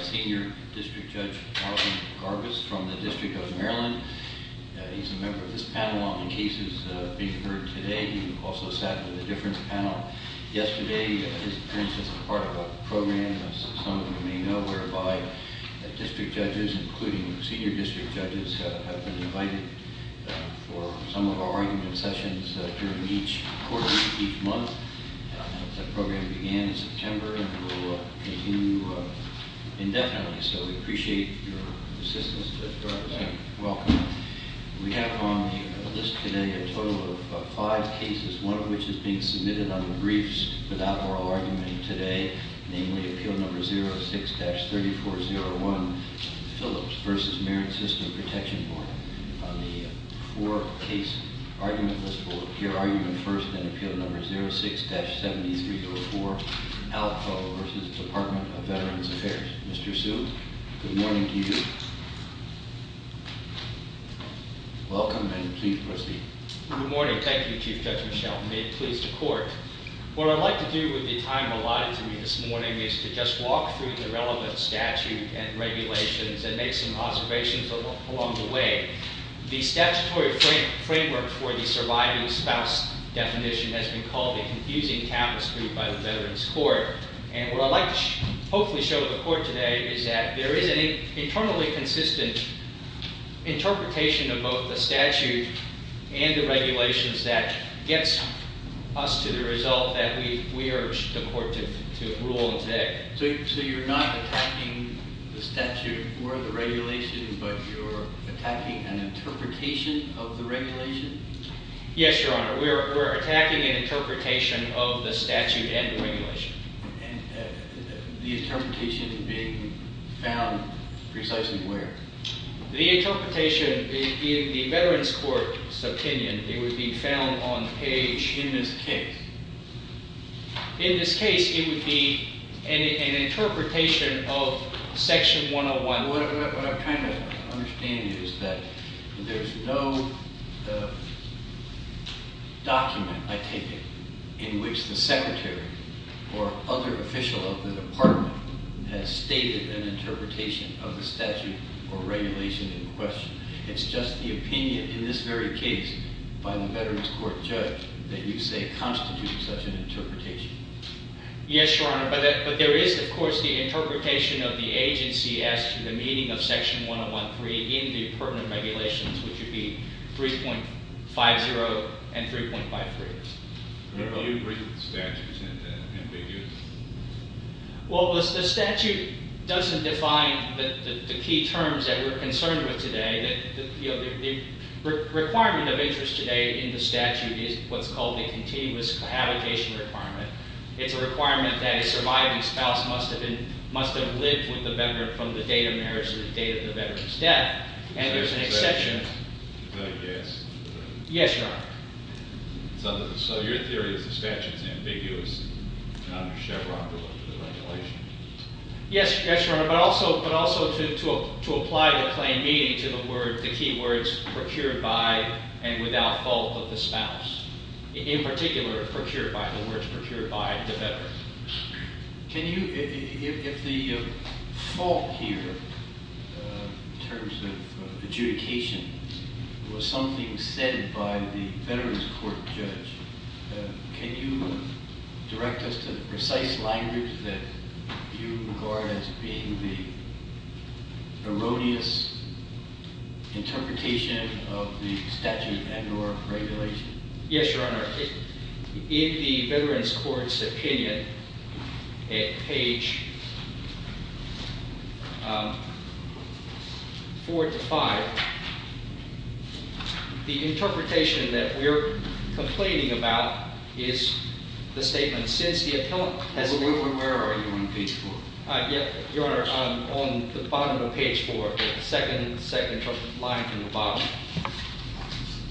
Senior District Judge Alvin Garbus from the District of Maryland. He's a member of this panel on the cases being heard today. He also sat in a different panel yesterday. His appearance is part of a program, as some of you may know, whereby district judges, including senior district judges, have been invited for some of our argument sessions during each quarter, each month. The program began in September and will continue indefinitely, so we appreciate your assistance. We have on the list today a total of five cases, one of which is being submitted on the briefs without oral argument today, namely Appeal No. 06-3401, Phillips v. Merritt System Protection Board. On the four-case argument list will appear argument first in Appeal No. 06-7304, Alpough v. Department of Veterans Affairs. Mr. Hsu, good morning to you. Welcome and please proceed. Good morning. Thank you, Chief Judge Michel. I'm made pleased to court. What I'd like to do with the time allotted to me this morning is to just walk through the relevant statute and regulations and make some observations along the way. The statutory framework for the surviving spouse definition has been called a confusing taboo by the Veterans Court, and what I'd like to hopefully show the court today is that there is an internally consistent interpretation of both the statute and the regulations that gets us to the result that we urge the court to rule today. So you're not attacking the statute or the regulation, but you're attacking an interpretation of the regulation? Yes, Your Honor. We're attacking an interpretation of the statute and the regulation. And the interpretation being found precisely where? The interpretation in the Veterans Court's opinion, it would be found on the page in this case. In this case, it would be an interpretation of Section 101. What I'm trying to understand is that there's no document, I take it, in which the secretary or other official of the department has stated an interpretation of the statute or regulation in question. It's just the opinion in this very case by the Veterans Court judge that you say constitutes such an interpretation. Yes, Your Honor, but there is, of course, the interpretation of the agency as to the meaning of Section 101.3 in the pertinent regulations, which would be 3.50 and 3.53. Remember, you agreed with the statute, didn't you? Well, the statute doesn't define the key terms that we're concerned with today. The requirement of interest today in the statute is what's called the continuous abdication requirement. It's a requirement that a surviving spouse must have lived with the veteran from the date of marriage to the date of the veteran's death. And there's an exception. Is that a yes? Yes, Your Honor. So your theory is the statute is ambiguous under Chevron, the regulation? Yes, Your Honor, but also to apply the plain meaning to the key words procured by and without fault of the spouse. In particular, procured by, the words procured by the veteran. Can you, if the fault here in terms of adjudication was something said by the veterans court judge, can you direct us to the precise language that you regard as being the erroneous interpretation of the statute and or regulation? Yes, Your Honor. In the veterans court's opinion, at page four to five, the interpretation that we're complaining about is the statement, since the appellant has been- Where are you on page four? Your Honor, I'm on the bottom of page four, the second line from the bottom.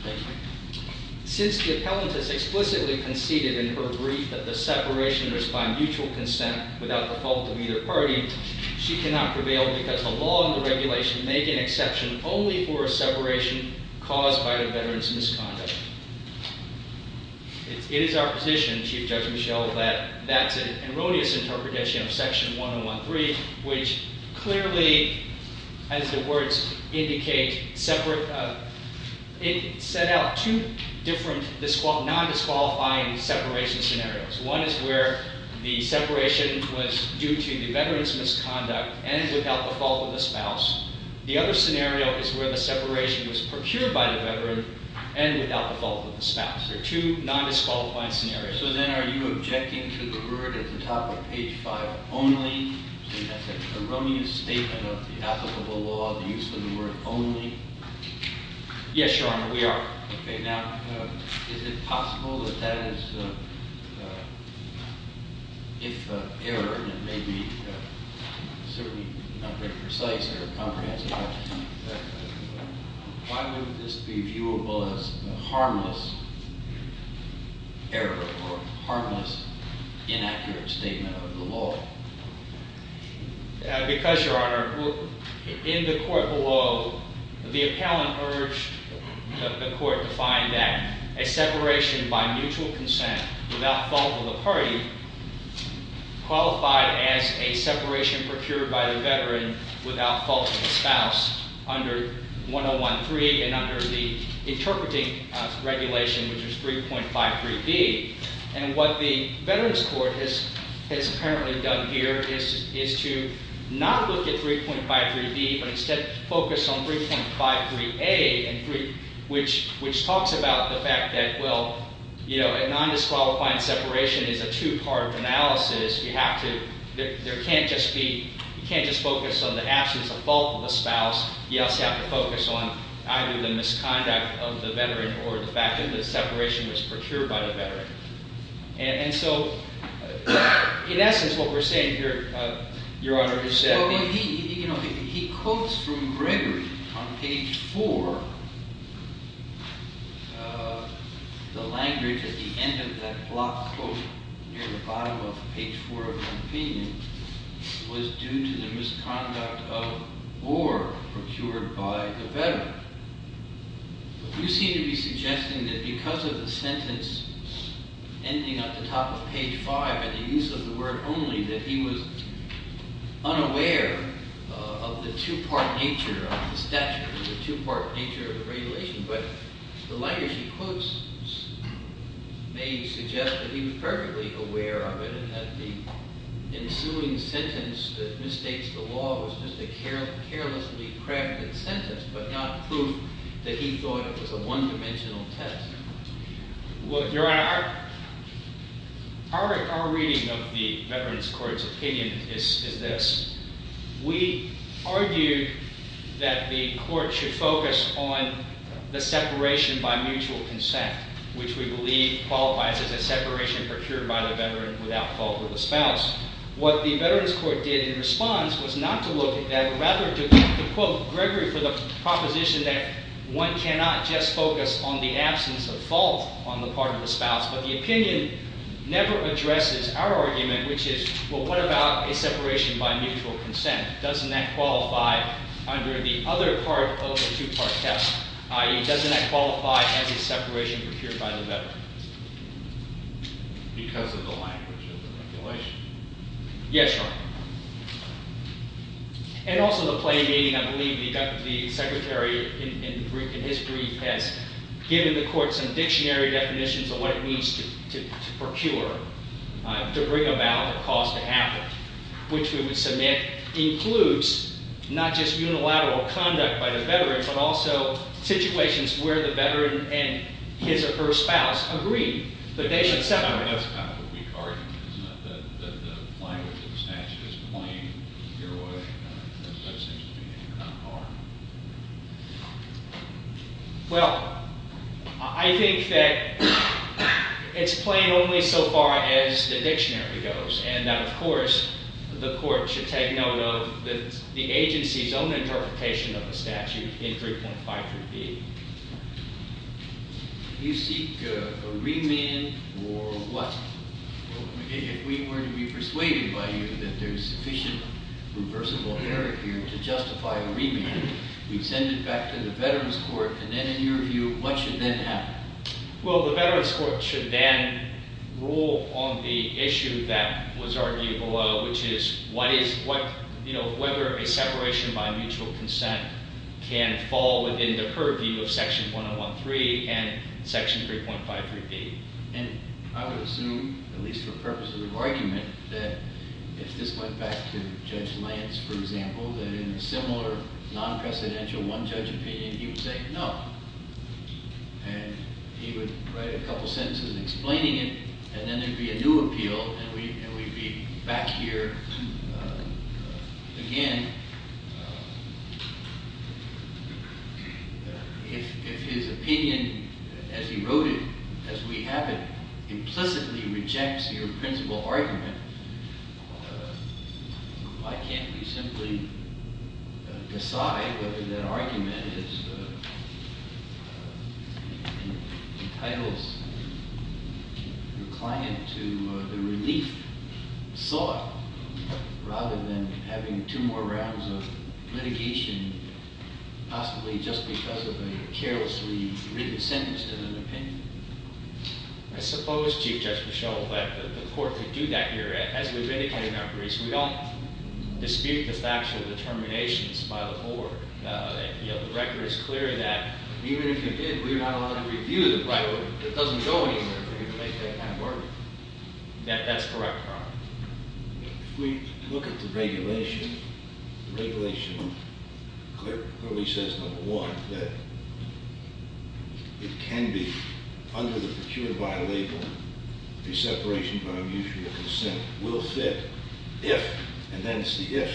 Thank you. Since the appellant has explicitly conceded in her brief that the separation is by mutual consent without the fault of either party, she cannot prevail because the law and the regulation make an exception only for a separation caused by the veteran's misconduct. It is our position, Chief Judge Michel, that that's an erroneous interpretation of section 101.3, which clearly, as the words indicate, set out two different non-disqualifying separation scenarios. One is where the separation was due to the veteran's misconduct and without the fault of the spouse. The other scenario is where the separation was procured by the veteran and without the fault of the spouse. There are two non-disqualifying scenarios. So then are you objecting to the word at the top of page five only, saying that's an erroneous statement on behalf of the law, the use of the word only? Yes, Your Honor, we are. Okay. Now, is it possible that that is, if error, and it may be certainly not very precise or comprehensive, why would this be viewable as a harmless error or harmless, inaccurate statement of the law? Because, Your Honor, in the court below, the appellant urged the court to find that a separation by mutual consent without fault of the party qualified as a separation procured by the veteran without fault of the spouse under 101.3 and under the interpreting regulation, which is 3.53B. And what the Veterans Court has apparently done here is to not look at 3.53B, but instead focus on 3.53A, which talks about the fact that, well, a non-disqualifying separation is a two-part analysis. You have to, there can't just be, you can't just focus on the absence of fault of the spouse. You also have to focus on either the misconduct of the veteran or the fact that the separation was procured by the veteran. And so, in essence, what we're saying here, Your Honor, is that— Well, he quotes from Gregory on page 4. The language at the end of that block quote near the bottom of page 4 of my opinion was due to the misconduct of or procured by the veteran. You seem to be suggesting that because of the sentence ending at the top of page 5 and the use of the word only, that he was unaware of the two-part nature of the statute, the two-part nature of the regulation. But the language he quotes may suggest that he was perfectly aware of it and that the ensuing sentence that misstates the law was just a carelessly crafted sentence but not proof that he thought it was a one-dimensional test. Well, Your Honor, our reading of the Veterans Court's opinion is this. We argued that the court should focus on the separation by mutual consent, which we believe qualifies as a separation procured by the veteran without fault of the spouse. What the Veterans Court did in response was not to look at that, but rather to quote Gregory for the proposition that one cannot just focus on the absence of fault on the part of the spouse, but the opinion never addresses our argument, which is, well, what about a separation by mutual consent? Doesn't that qualify under the other part of the two-part test? I.e., doesn't that qualify as a separation procured by the veteran? Because of the language of the regulation. Yes, Your Honor. And also the plain meaning, I believe the secretary in his brief has given the court some dictionary definitions of what it means to procure, to bring about a cause to happen, which we would submit includes not just unilateral conduct by the veteran but also situations where the veteran and his or her spouse agree that they should separate. That's kind of a weak argument, isn't it, that the language of the statute is plain in your way? That seems to me to be kind of hard. Well, I think that it's plain only so far as the dictionary goes and that, of course, the court should take note of the agency's own interpretation of the statute in 3.53B. Do you seek a remand or what? If we were to be persuaded by you that there's sufficient reversible error here to justify a remand, we'd send it back to the Veterans Court and then, in your view, what should then happen? Well, the Veterans Court should then rule on the issue that was argued below, which is whether a separation by mutual consent can fall within the purview of Section 113 and Section 3.53B. And I would assume, at least for purposes of argument, that if this went back to Judge Lance, for example, that in a similar non-presidential one-judge opinion, he would say no. And he would write a couple sentences explaining it, and then there'd be a new appeal, and we'd be back here again. If his opinion, as he wrote it, as we have it, implicitly rejects your principal argument, why can't we simply decide whether that argument entitles your client to the relief sought, rather than having two more rounds of litigation, possibly just because of a carelessly written sentence in an opinion? I suppose, Chief Judge Mischel, that the court could do that here. As we've indicated in our briefs, we don't dispute the factual determinations by the court. The record is clear that even if you did, we are not allowed to review the record. It doesn't go anywhere if we're going to make that kind of argument. That's correct, Your Honor. If we look at the regulation, the regulation clearly says, number one, that it can be, under the procured by label, the separation by unusual consent will fit if, and then it's the if,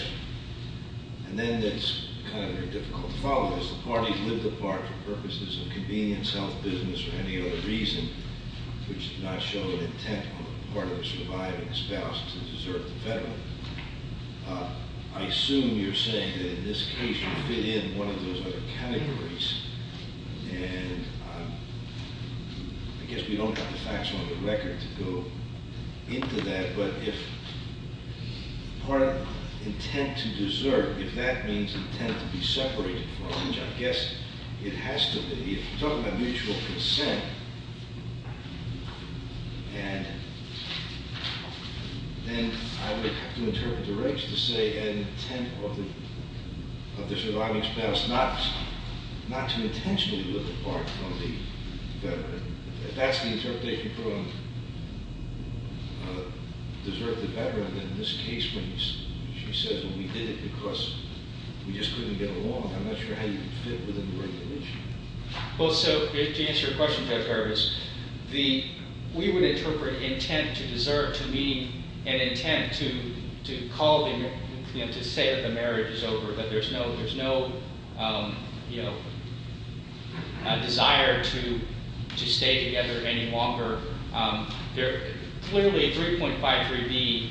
and then it's kind of difficult to follow. The parties lived apart for purposes of convenience, health, business, or any other reason, which did not show an intent on the part of the surviving spouse to desert the veteran. I assume you're saying that in this case you fit in one of those other categories, and I guess we don't have the facts on the record to go into that, but if part of intent to desert, if that means intent to be separated from, which I guess it has to be, if you're talking about mutual consent, and then I would have to interpret the regs to say an intent of the surviving spouse not to intentionally live apart from the veteran. If that's the interpretation from desert the veteran, then in this case when she says, well, we did it because we just couldn't get along, I'm not sure how you would fit within the regulation. Well, so to answer your question, Jeff Harvis, we would interpret intent to desert to mean an intent to call the, to say that the marriage is over, that there's no desire to stay together any longer. Clearly 3.53b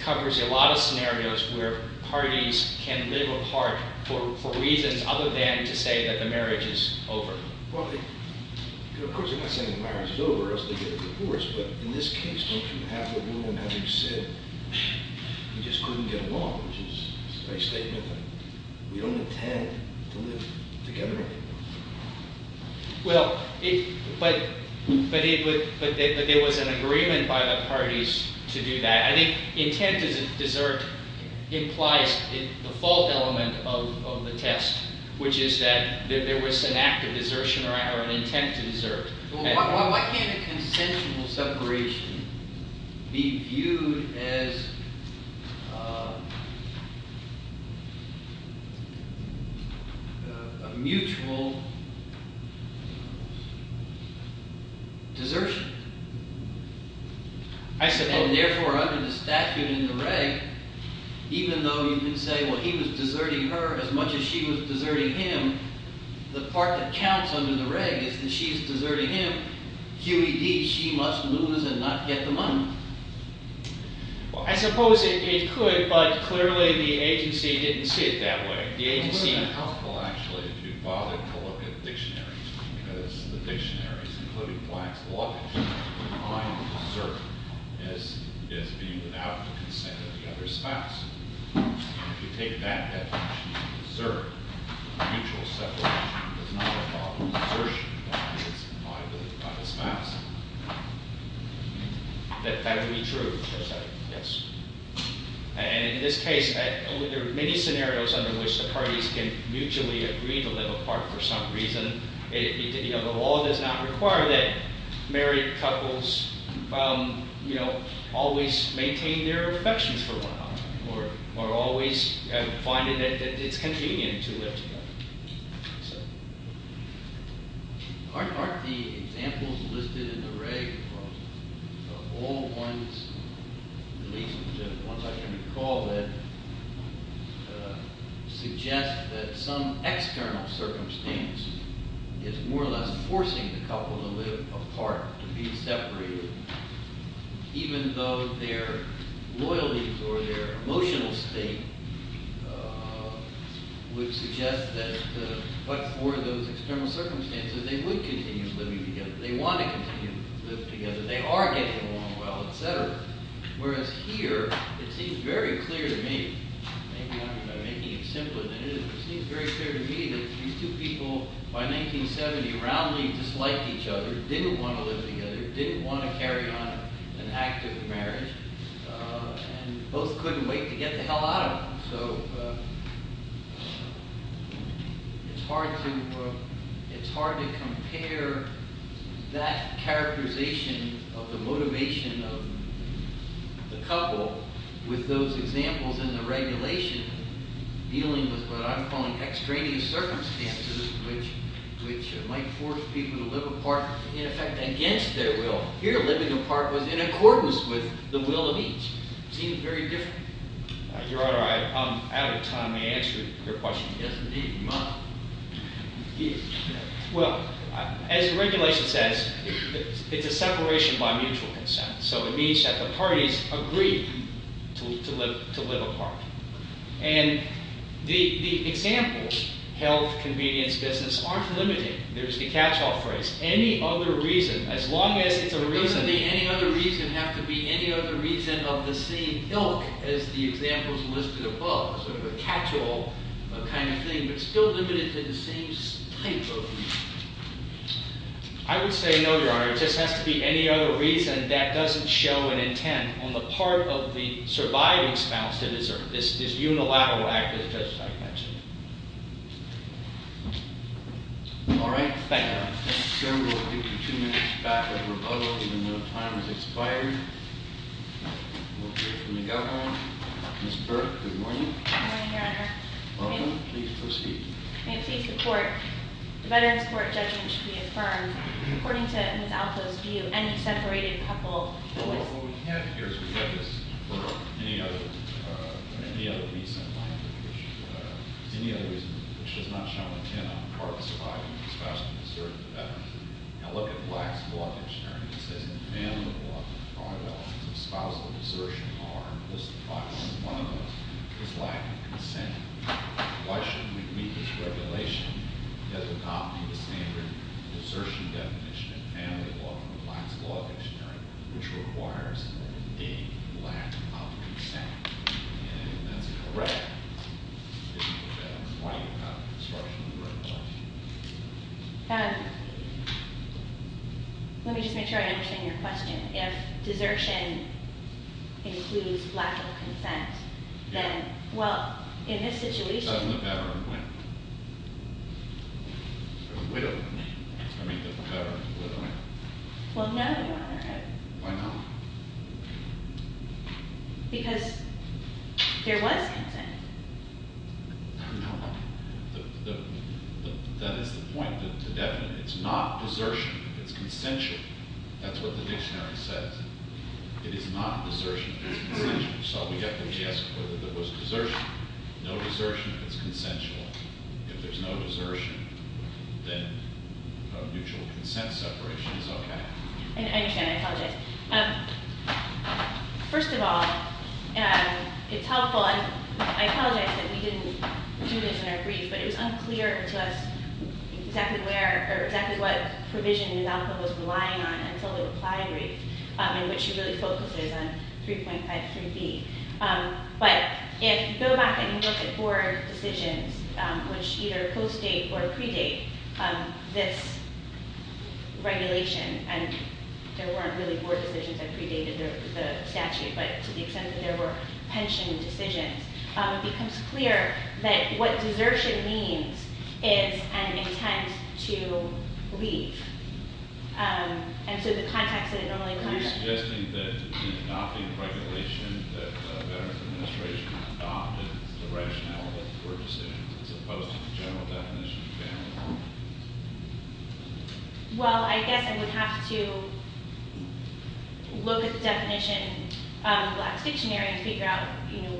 covers a lot of scenarios where parties can live apart for reasons other than to say that the marriage is over. Well, of course you're not saying the marriage is over or else they get a divorce, but in this case don't you have the rule in having said we just couldn't get along, which is a nice statement, but we don't intend to live together anymore. Well, but there was an agreement by the parties to do that. I think intent to desert implies the fault element of the test, which is that there was an act of desertion or an intent to desert. Why can't a consensual separation be viewed as a mutual desertion? I suppose. And therefore under the statute in the reg, even though you can say, well, he was deserting her as much as she was deserting him, the part that counts under the reg is that she's deserting him. QED, she must lose and not get the money. Well, I suppose it could, but clearly the agency didn't see it that way. It wouldn't have been helpful, actually, if you bothered to look at the dictionaries, because the dictionaries, including Black's Law, define desert as being without the consent of the other spouse. If you take that definition, desert, mutual separation, does not involve desertion that is implied by the spouse. That would be true, yes. And in this case, there are many scenarios under which the parties can mutually agree to live apart for some reason. The law does not require that married couples, you know, always maintain their affections for one another, or always find that it's convenient to live together. Aren't the examples listed in the reg of all ones, at least the ones I can recall that suggest that some external circumstance is more or less forcing the couple to live apart, to be separated, even though their loyalties or their emotional state would suggest that, but for those external circumstances, they would continue living together. They want to continue to live together. They are getting along well, etc. Whereas here, it seems very clear to me, maybe I'm making it simpler than it is, it seems very clear to me that these two people, by 1970, roundly disliked each other, didn't want to live together, didn't want to carry on an active marriage, and both couldn't wait to get the hell out of them. So it's hard to compare that characterization of the motivation of the couple with those examples in the regulation, dealing with what I'm calling extraneous circumstances, which might force people to live apart, in effect, against their will. Here, living apart was in accordance with the will of each. It seems very different. Your Honor, I'm out of time. May I answer your question? Yes, indeed. You may. Well, as the regulation says, it's a separation by mutual consent. So it means that the parties agree to live apart. And the examples, health, convenience, business, aren't limited. There's the catch-all phrase. Any other reason, as long as it's a reason... Doesn't the any other reason have to be any other reason of the same ilk as the examples listed above? Sort of a catch-all kind of thing, but still limited to the same type of reason. I would say no, Your Honor. It just has to be any other reason that doesn't show an intent on the part of the surviving spouse to desert. This unilateral act, as Judge Stein mentioned. All right. Thank you. We'll take two minutes back at rebuttal, even though time has expired. We'll hear from the Governor. Ms. Burke, good morning. Good morning, Your Honor. Welcome. Please proceed. May it please the Court. The Veterans Court judgment should be affirmed. According to Ms. Altho's view, any separated couple was... What we have here is we have this... Any other reason which does not show an intent on the part of the surviving spouse to desert the veteran. Now, look at Black's Law of Engineering. It says, in the family law, the fraud of the spousal desertion are listed by only one of those. It's lack of consent. Why shouldn't we meet this regulation that would not be the standard desertion definition in family law from Black's Law of Engineering, which requires a lack of consent? And if that's correct, isn't the veteran's claim about destruction of the right to life? Let me just make sure I understand your question. If desertion includes lack of consent, then, well, in this situation... Doesn't the veteran win? Or the widow win? I mean, does the veteran and the widow win? Well, no, Your Honor. Why not? Because there was consent. No. That is the point. It's not desertion. It's consensual. That's what the dictionary says. It is not desertion if it's consensual. So we have to guess whether there was desertion. No desertion if it's consensual. If there's no desertion, then mutual consent separation is okay. I understand. I apologize. First of all, it's helpful, and I apologize that we didn't do this in our brief, but it was unclear to us exactly where or exactly what provision Ms. Alko was relying on until the reply brief, in which she really focuses on 3.53b. But if you go back and you look at board decisions, which either postdate or predate this regulation, and there weren't really board decisions that predated the statute, but to the extent that there were pension decisions, it becomes clear that what desertion means is an intent to leave. And so the context that it normally comes from... Are you suggesting that in adopting the regulation that the Veterans Administration adopted the rationale of the board decision as opposed to the general definition? Well, I guess I would have to look at the definition of the Blacks Dictionary and figure out, you know,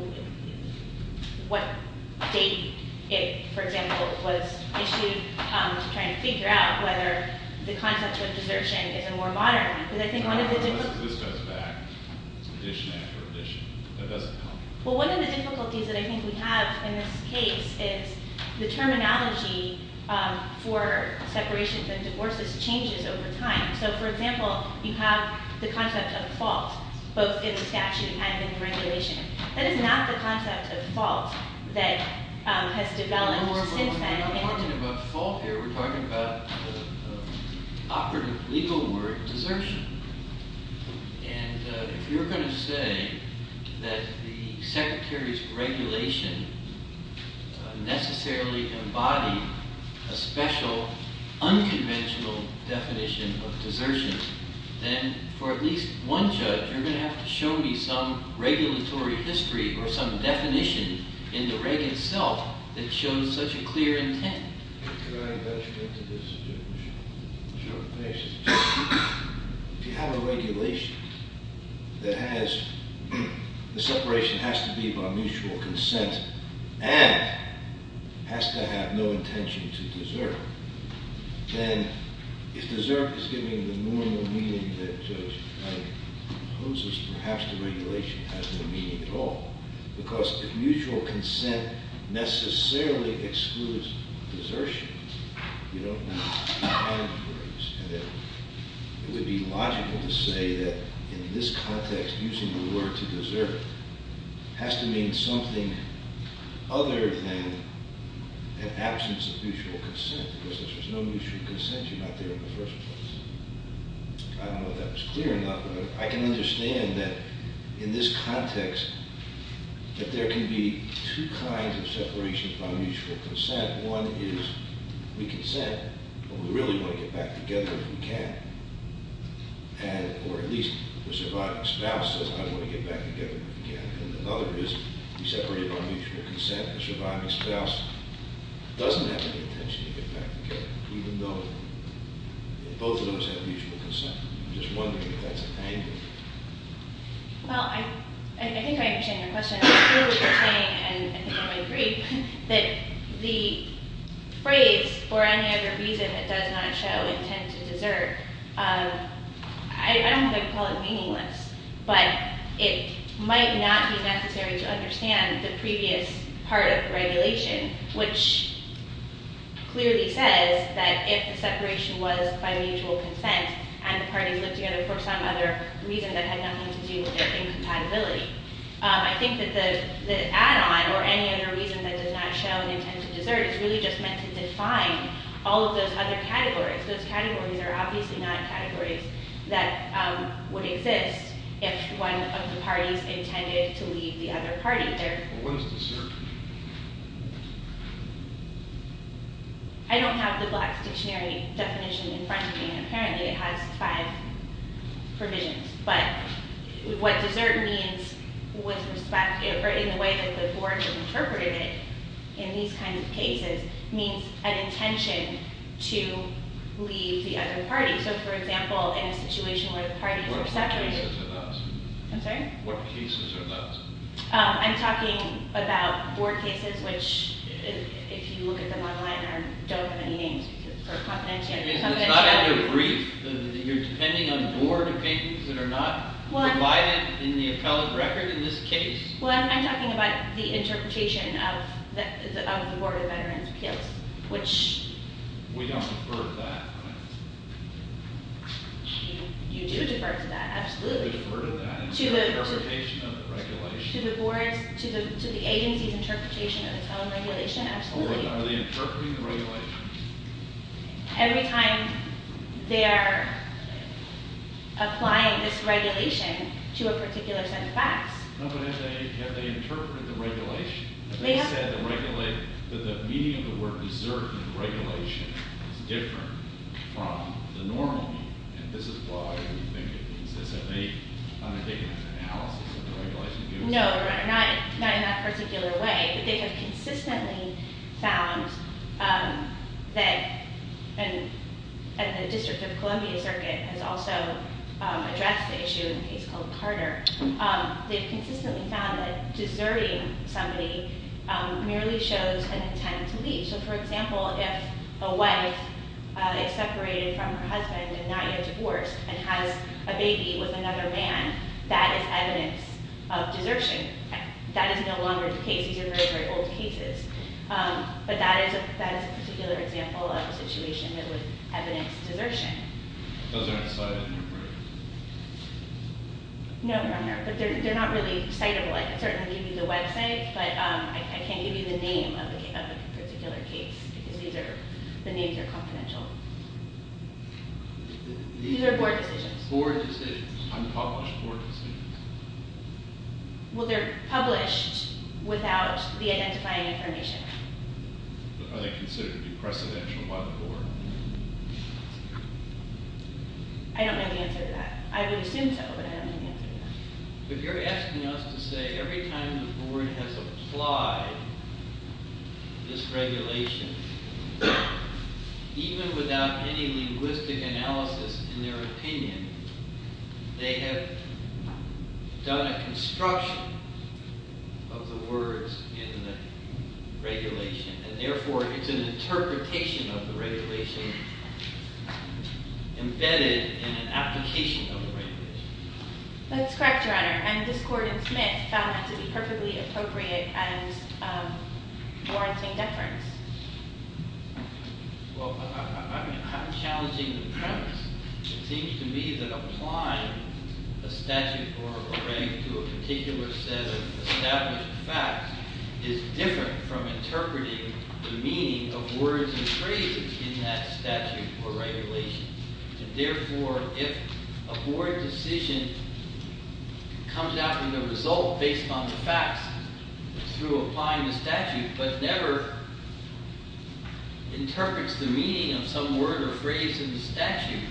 what date it, for example, was issued to try and figure out whether the concept of desertion is a more modern... This goes back edition after edition. That doesn't count. Well, one of the difficulties that I think we have in this case is the terminology for separations and divorces changes over time. So, for example, you have the concept of fault both in the statute and in the regulation. That is not the concept of fault that has developed since then. We're not talking about fault here. We're talking about operative legal word desertion. And if you're going to say that the Secretary's regulation necessarily embodied a special unconventional definition of desertion, then for at least one judge, you're going to have to show me some regulatory history or some definition in the reg itself that shows such a clear intent. Could I venture into this? Sure. If you have a regulation that has... The separation has to be by mutual consent and has to have no intention to desert, then if desert is giving the normal meaning that a judge proposes, perhaps the regulation has no meaning at all. Because if mutual consent necessarily excludes desertion, you don't need to find words. And it would be logical to say that in this context, using the word to desert has to mean something other than an absence of mutual consent, because if there's no mutual consent, you're not there in the first place. I don't know if that was clear enough, but I can understand that in this context that there can be two kinds of separations by mutual consent. One is we consent, but we really want to get back together if we can. Or at least the surviving spouse says, I want to get back together if we can. And another is we separate by mutual consent. The surviving spouse doesn't have any intention to get back together, even though both of those have mutual consent. I'm just wondering if that's a thing. Well, I think I understand your question. I feel what you're saying, and I think I might agree, that the phrase, for any other reason that does not show intent to desert, I don't know if I would call it meaningless, but it might not be necessary to understand the previous part of the regulation, which clearly says that if the separation was by mutual consent and the parties lived together for some other reason that had nothing to do with their incompatibility. I think that the add-on, or any other reason that does not show an intent to desert, is really just meant to define all of those other categories. Those categories are obviously not categories that would exist if one of the parties intended to leave the other party. What is desert? I don't have the Black's Dictionary definition in front of me, and apparently it has five provisions. But what desert means, in the way that the board has interpreted it, in these kinds of cases, means an intention to leave the other party. So, for example, in a situation where the parties are separated... What cases are those? I'm talking about board cases, which, if you look at them online, don't have any names. It's not under brief. You're depending on board opinions that are not provided in the appellate record in this case? Well, I'm talking about the interpretation of the Board of Veterans' Appeals, which... We don't defer to that. You do defer to that, absolutely. We defer to that interpretation of the regulation. To the agency's interpretation of its own regulation, absolutely. Are they interpreting the regulation? Every time they are applying this regulation to a particular set of facts. No, but have they interpreted the regulation? Have they said that the meaning of the word desert in the regulation is different from the normal meaning? And this is why we think it means this. Have they undertaken an analysis of the regulation? No, not in that particular way. But they have consistently found that... And the District of Columbia Circuit has also addressed the issue in a case called Carter. They've consistently found that deserting somebody merely shows an intent to leave. So, for example, if a wife is separated from her husband and not yet divorced and has a baby with another man, that is evidence of desertion. That is no longer the case. These are very, very old cases. But that is a particular example of a situation that would evidence desertion. Those aren't cited in your brief? No, but they're not really citable. I can certainly give you the website, but I can't give you the name of the particular case because the names are confidential. These are board decisions. Unpublished board decisions. Well, they're published without the identifying information. Are they considered to be precedential by the board? I don't know the answer to that. I would assume so, but I don't know the answer to that. But you're asking us to say every time the board has applied this regulation, even without any linguistic analysis in their opinion, they have done a construction of the words in the regulation. And therefore, it's an interpretation of the regulation embedded in an application of the regulation. That's correct, Your Honor. And this court in Smith found that to be perfectly appropriate as warranting deference. Well, I'm challenging the premise. It seems to me that applying a statute or a regulation to a particular set of established facts is different from interpreting the meaning of words and phrases in that statute or regulation. And therefore, if a board decision comes out with a result based on the facts through applying the statute, but never interprets the meaning of some word or phrase in the statute,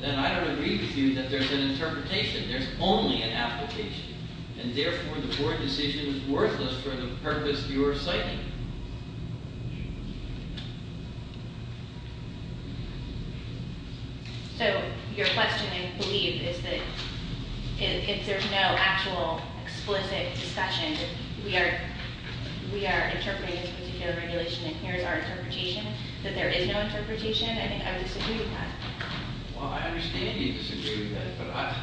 then I don't agree with you that there's an interpretation. There's only an application. And therefore, the board decision is worthless for the purpose you're citing. So your question, I believe, is that if there's no actual explicit discussion, if we are interpreting this particular regulation and here's our interpretation, that there is no interpretation, I think I would disagree with that. Well, I understand you disagree with that,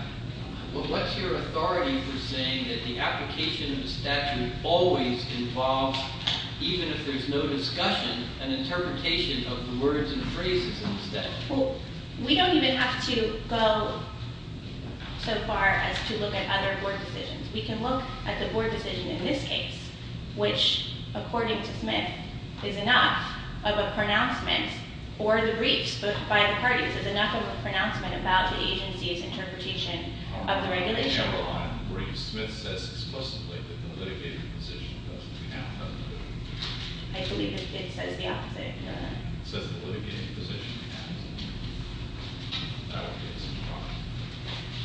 but what's your authority for saying that the application of a statute always involves, even if there's no discussion, an interpretation of the words and phrases in the statute? Well, we don't even have to go so far as to look at other board decisions. We can look at the board decision in this case, which, according to Smith, is enough of a pronouncement, or the briefs by the parties is enough of a pronouncement about the agency's interpretation of the regulation. On the other line, the briefs, Smith says explicitly that the litigating position doesn't count, doesn't it? I believe it says the opposite. It says the litigating position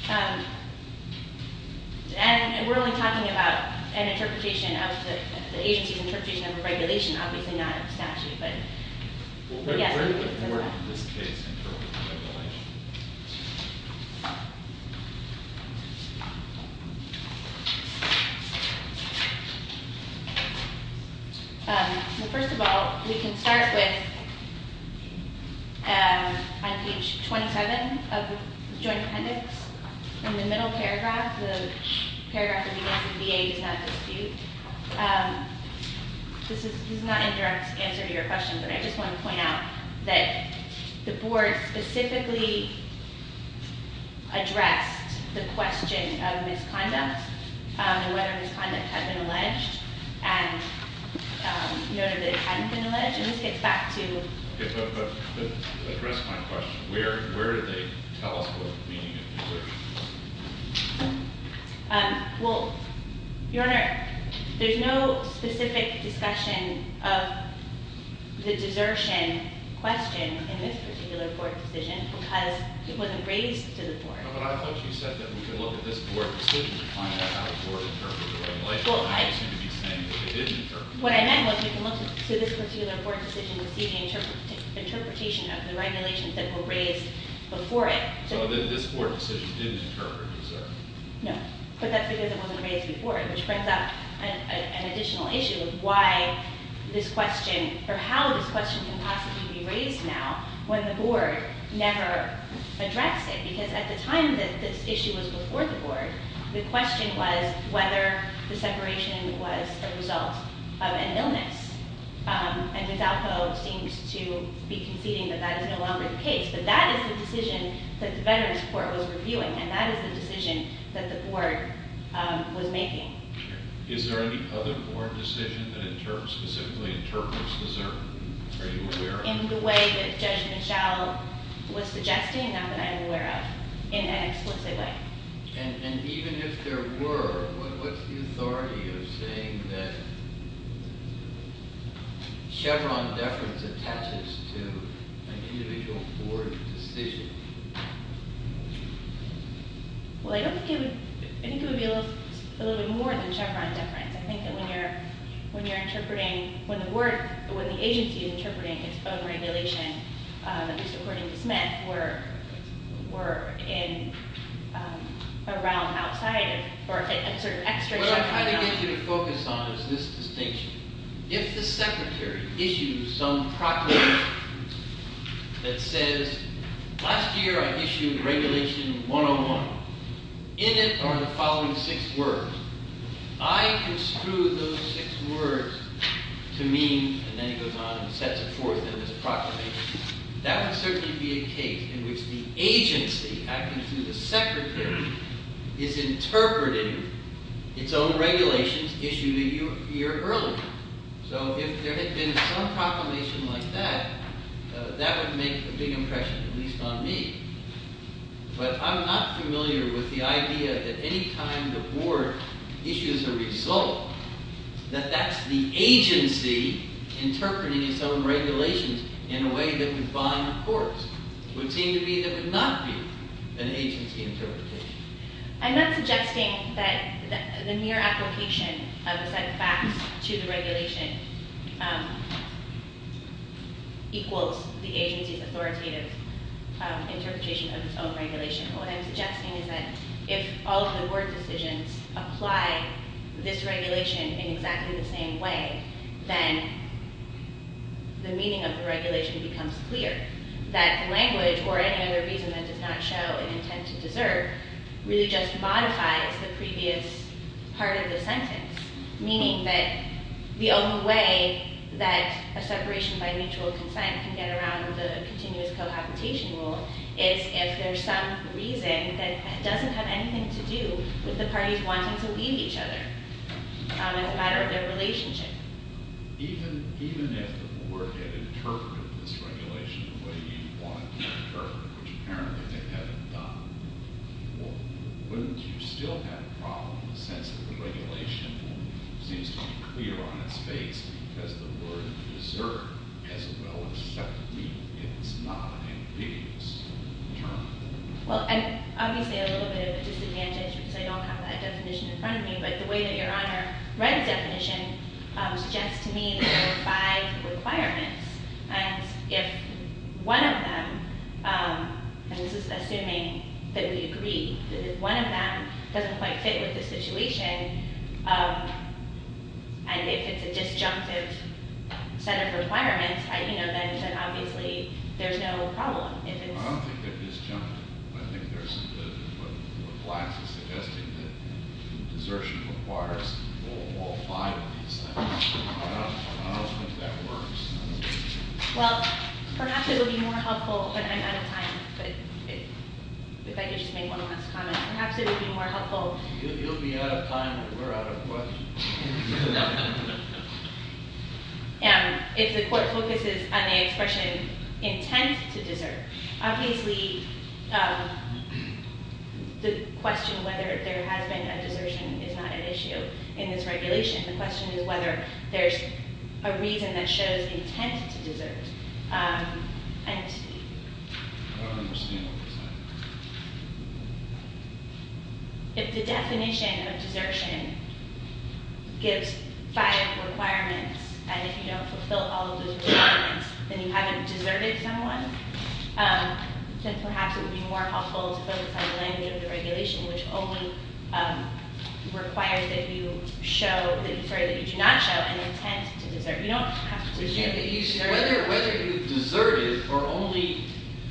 counts. And we're only talking about an interpretation of the agency's interpretation of a regulation, obviously not a statute, but yes. Where do the board in this case interpret the regulation? Okay. Well, first of all, we can start with on page 27 of the Joint Appendix. In the middle paragraph, the paragraph that begins with VA does not dispute. This is not an indirect answer to your question, but I just want to point out that the board specifically addressed the question of misconduct and whether misconduct had been alleged and noted that it hadn't been alleged. And this gets back to- Okay, but address my question. Where did they tell us what the meaning of the assertion was? Well, Your Honor, there's no specific discussion of the desertion question in this particular board decision because it wasn't raised to the board. No, but I thought you said that we can look at this board decision to find out how the board interpreted the regulation. Well, I- You seem to be saying that they didn't interpret it. What I meant was we can look to this particular board decision to see the interpretation of the regulations that were raised before it. So this board decision didn't interpret the desertion? No, but that's because it wasn't raised before it, which brings up an additional issue of why this question- or how this question can possibly be raised now when the board never addressed it because at the time that this issue was before the board, the question was whether the separation was a result of an illness. And Gazzalco seems to be conceding that that is no longer the case, that that is the decision that the Veterans Court was reviewing and that is the decision that the board was making. Is there any other board decision that specifically interprets desertion? Are you aware of it? In the way that Judge Michelle was suggesting, not that I'm aware of in an explicit way. And even if there were, what's the authority of saying that Chevron deference attaches to an individual board decision? Well, I don't think it would- I think it would be a little bit more than Chevron deference. I think that when you're interpreting- when the agency is interpreting its own regulation, just according to Smith, we're in a realm outside of- What I'm trying to get you to focus on is this distinction. If the secretary issues some proclamation that says, last year I issued regulation 101. In it are the following six words. I construe those six words to mean, and then he goes on and sets it forth in this proclamation. That would certainly be a case in which the agency, acting through the secretary, is interpreting its own regulations issued a year earlier. So if there had been some proclamation like that, that would make a big impression, at least on me. But I'm not familiar with the idea that any time the board issues a result, that that's the agency interpreting its own regulations in a way that would bind the courts. It would seem to me that would not be an agency interpretation. I'm not suggesting that the mere application of a set of facts to the regulation equals the agency's authoritative interpretation of its own regulation. What I'm suggesting is that if all of the board decisions apply this regulation in exactly the same way, then the meaning of the regulation becomes clear. That language or any other reason that does not show an intent to deserve really just modifies the previous part of the sentence. Meaning that the only way that a separation by mutual consent can get around the continuous cohabitation rule is if there's some reason that doesn't have anything to do with the parties wanting to leave each other as a matter of their relationship. Even if the board had interpreted this regulation the way you want it to be interpreted, which apparently they haven't done, wouldn't you still have a problem in the sense that the regulation seems to be clear on its face because the word deserve has a well-respected meaning. It's not an ambiguous term. Well, and obviously a little bit of a disadvantage because I don't have that definition in front of me, but the way that your Honor read the definition suggests to me that there are five requirements. And if one of them, and this is assuming that we agree, if one of them doesn't quite fit with the situation and if it's a disjunctive set of requirements, then obviously there's no problem. I don't think they're disjunctive. I think there's some good in what Glass is suggesting that desertion requires all five of these things. I don't think that works. Well, perhaps it would be more helpful, and I'm out of time, but if I could just make one last comment. Perhaps it would be more helpful. You'll be out of time, but we're out of questions. And if the court focuses on the expression intent to desert, obviously the question whether there has been a desertion is not at issue in this regulation. The question is whether there's a reason that shows intent to desert. And... If the definition of desertion gives five requirements and if you don't fulfill all of those requirements then you haven't deserted someone, then perhaps it would be more helpful to focus on the language of the regulation which only requires that you show, sorry, that you do not show an intent to desert. You don't have to desert. Whether you deserted or only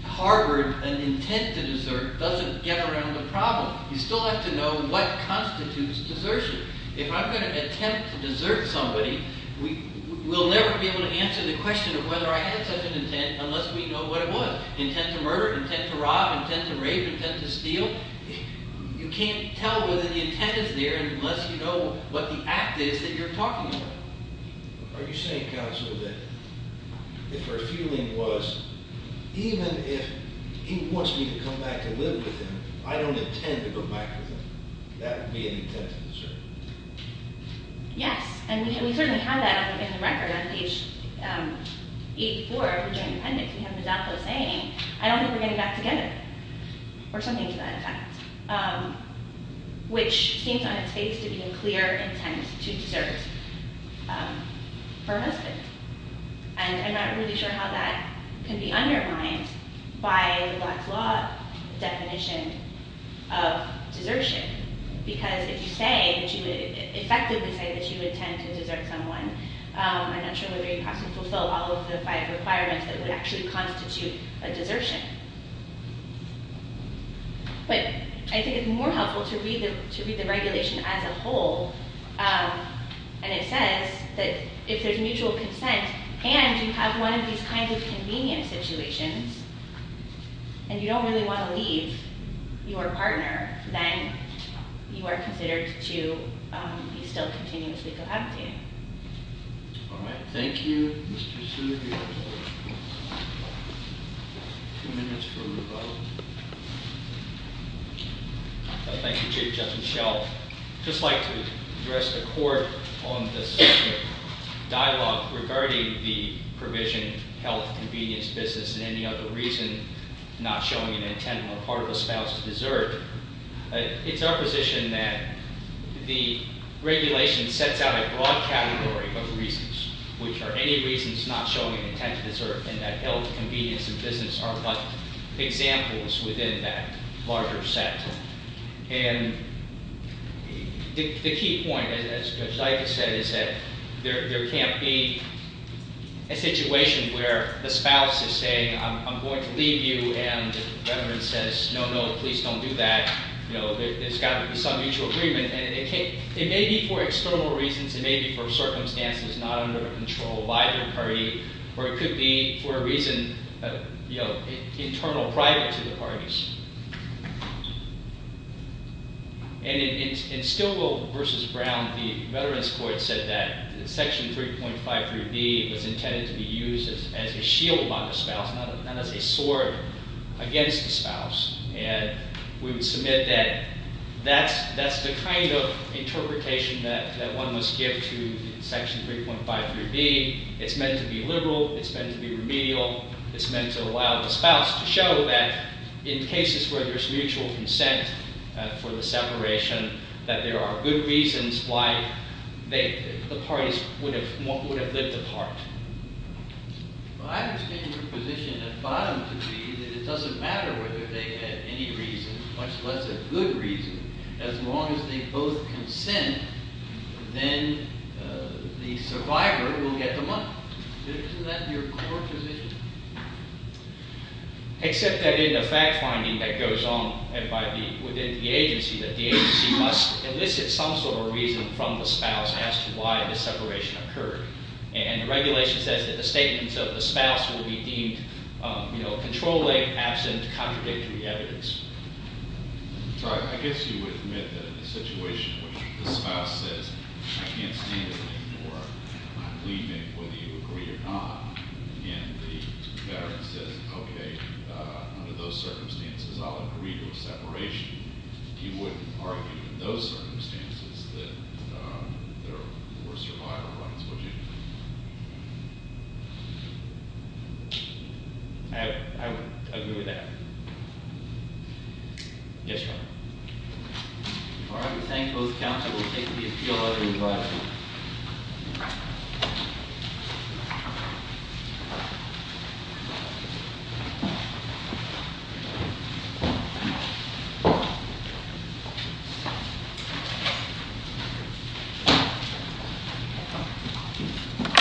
harbored an intent to desert doesn't get around the problem. You still have to know what constitutes desertion. If I'm going to attempt to desert somebody, we'll never be able to answer the question of whether I had such an intent unless we know what it was. Intent to murder, intent to rob, intent to rape, intent to steal. You can't tell whether the intent is there unless you know what the act is that you're talking about. Are you saying, counsel, that if her feeling was even if he wants me to come back to live with him, I don't intend to come back with him, that would be an intent to desert? Yes. And we certainly have that in the record on page 84 of the Joint Dependents. We have Mazzocco saying, I don't think we're getting back together or something to that effect, which seems on its face to be a clear intent to desert for a husband. And I'm not really sure how that can be undermined by the black law definition of desertion because if you say, if you effectively say that you intend to desert someone, I'm not sure whether you have to fulfill all of the five requirements that would actually constitute a desertion. But I think it's more helpful to read the regulation as a whole and it says that if there's mutual consent and you have one of these kinds of convenient situations and you don't really want to leave your partner, then you are considered to be still continuously compacted. All right. Thank you. Mr. Sue, you have two minutes for rebuttal. Thank you, Chief Justice Schell. I'd just like to address the Court on this dialogue regarding the provision, health, convenience, business, and any other reason not showing an intent or part of a spouse to desert. It's our position that the regulation sets out a broad category of reasons, which are any reasons not showing an intent to desert and that health, convenience, and business are but examples within that larger set. And the key point, as I just said, is that there can't be a situation where the spouse is saying, I'm going to leave you, and the veteran says, no, no, please don't do that. There's got to be some mutual agreement. And it may be for external reasons. It may be for circumstances not under control by the party. Or it could be for a reason internal or private to the parties. And in Stilwell v. Brown, the Veterans Court said that Section 3.53b was intended to be used as a shield by the spouse, not as a sword against the spouse. And we would submit that that's the kind of interpretation that one must give to Section 3.53b. It's meant to be liberal. It's meant to be remedial. It's meant to allow the spouse to show that in cases where there's mutual consent for the separation, that there are good reasons why the parties would have lived apart. Well, I understand your position at bottom to be that it doesn't matter whether they had any reason, much less a good reason. As long as they both consent, then the survivor will get the money. Isn't that your core position? Except that in the fact-finding that goes on within the agency, that the agency must elicit some sort of reason from the spouse as to why the separation occurred. And the regulation says that the statements of the spouse will be deemed controlling, absent, contradictory evidence. I guess you would admit that in a situation where the spouse says, I can't stand it anymore. I'm leaving, whether you agree or not. And the veteran says, OK, under those circumstances, I'll agree to a separation. You wouldn't argue in those circumstances that there were survival rights, would you? I would agree with that. Yes, Your Honor. All right. We thank both counsel. We'll take the appeal letter in the last week. Thank you.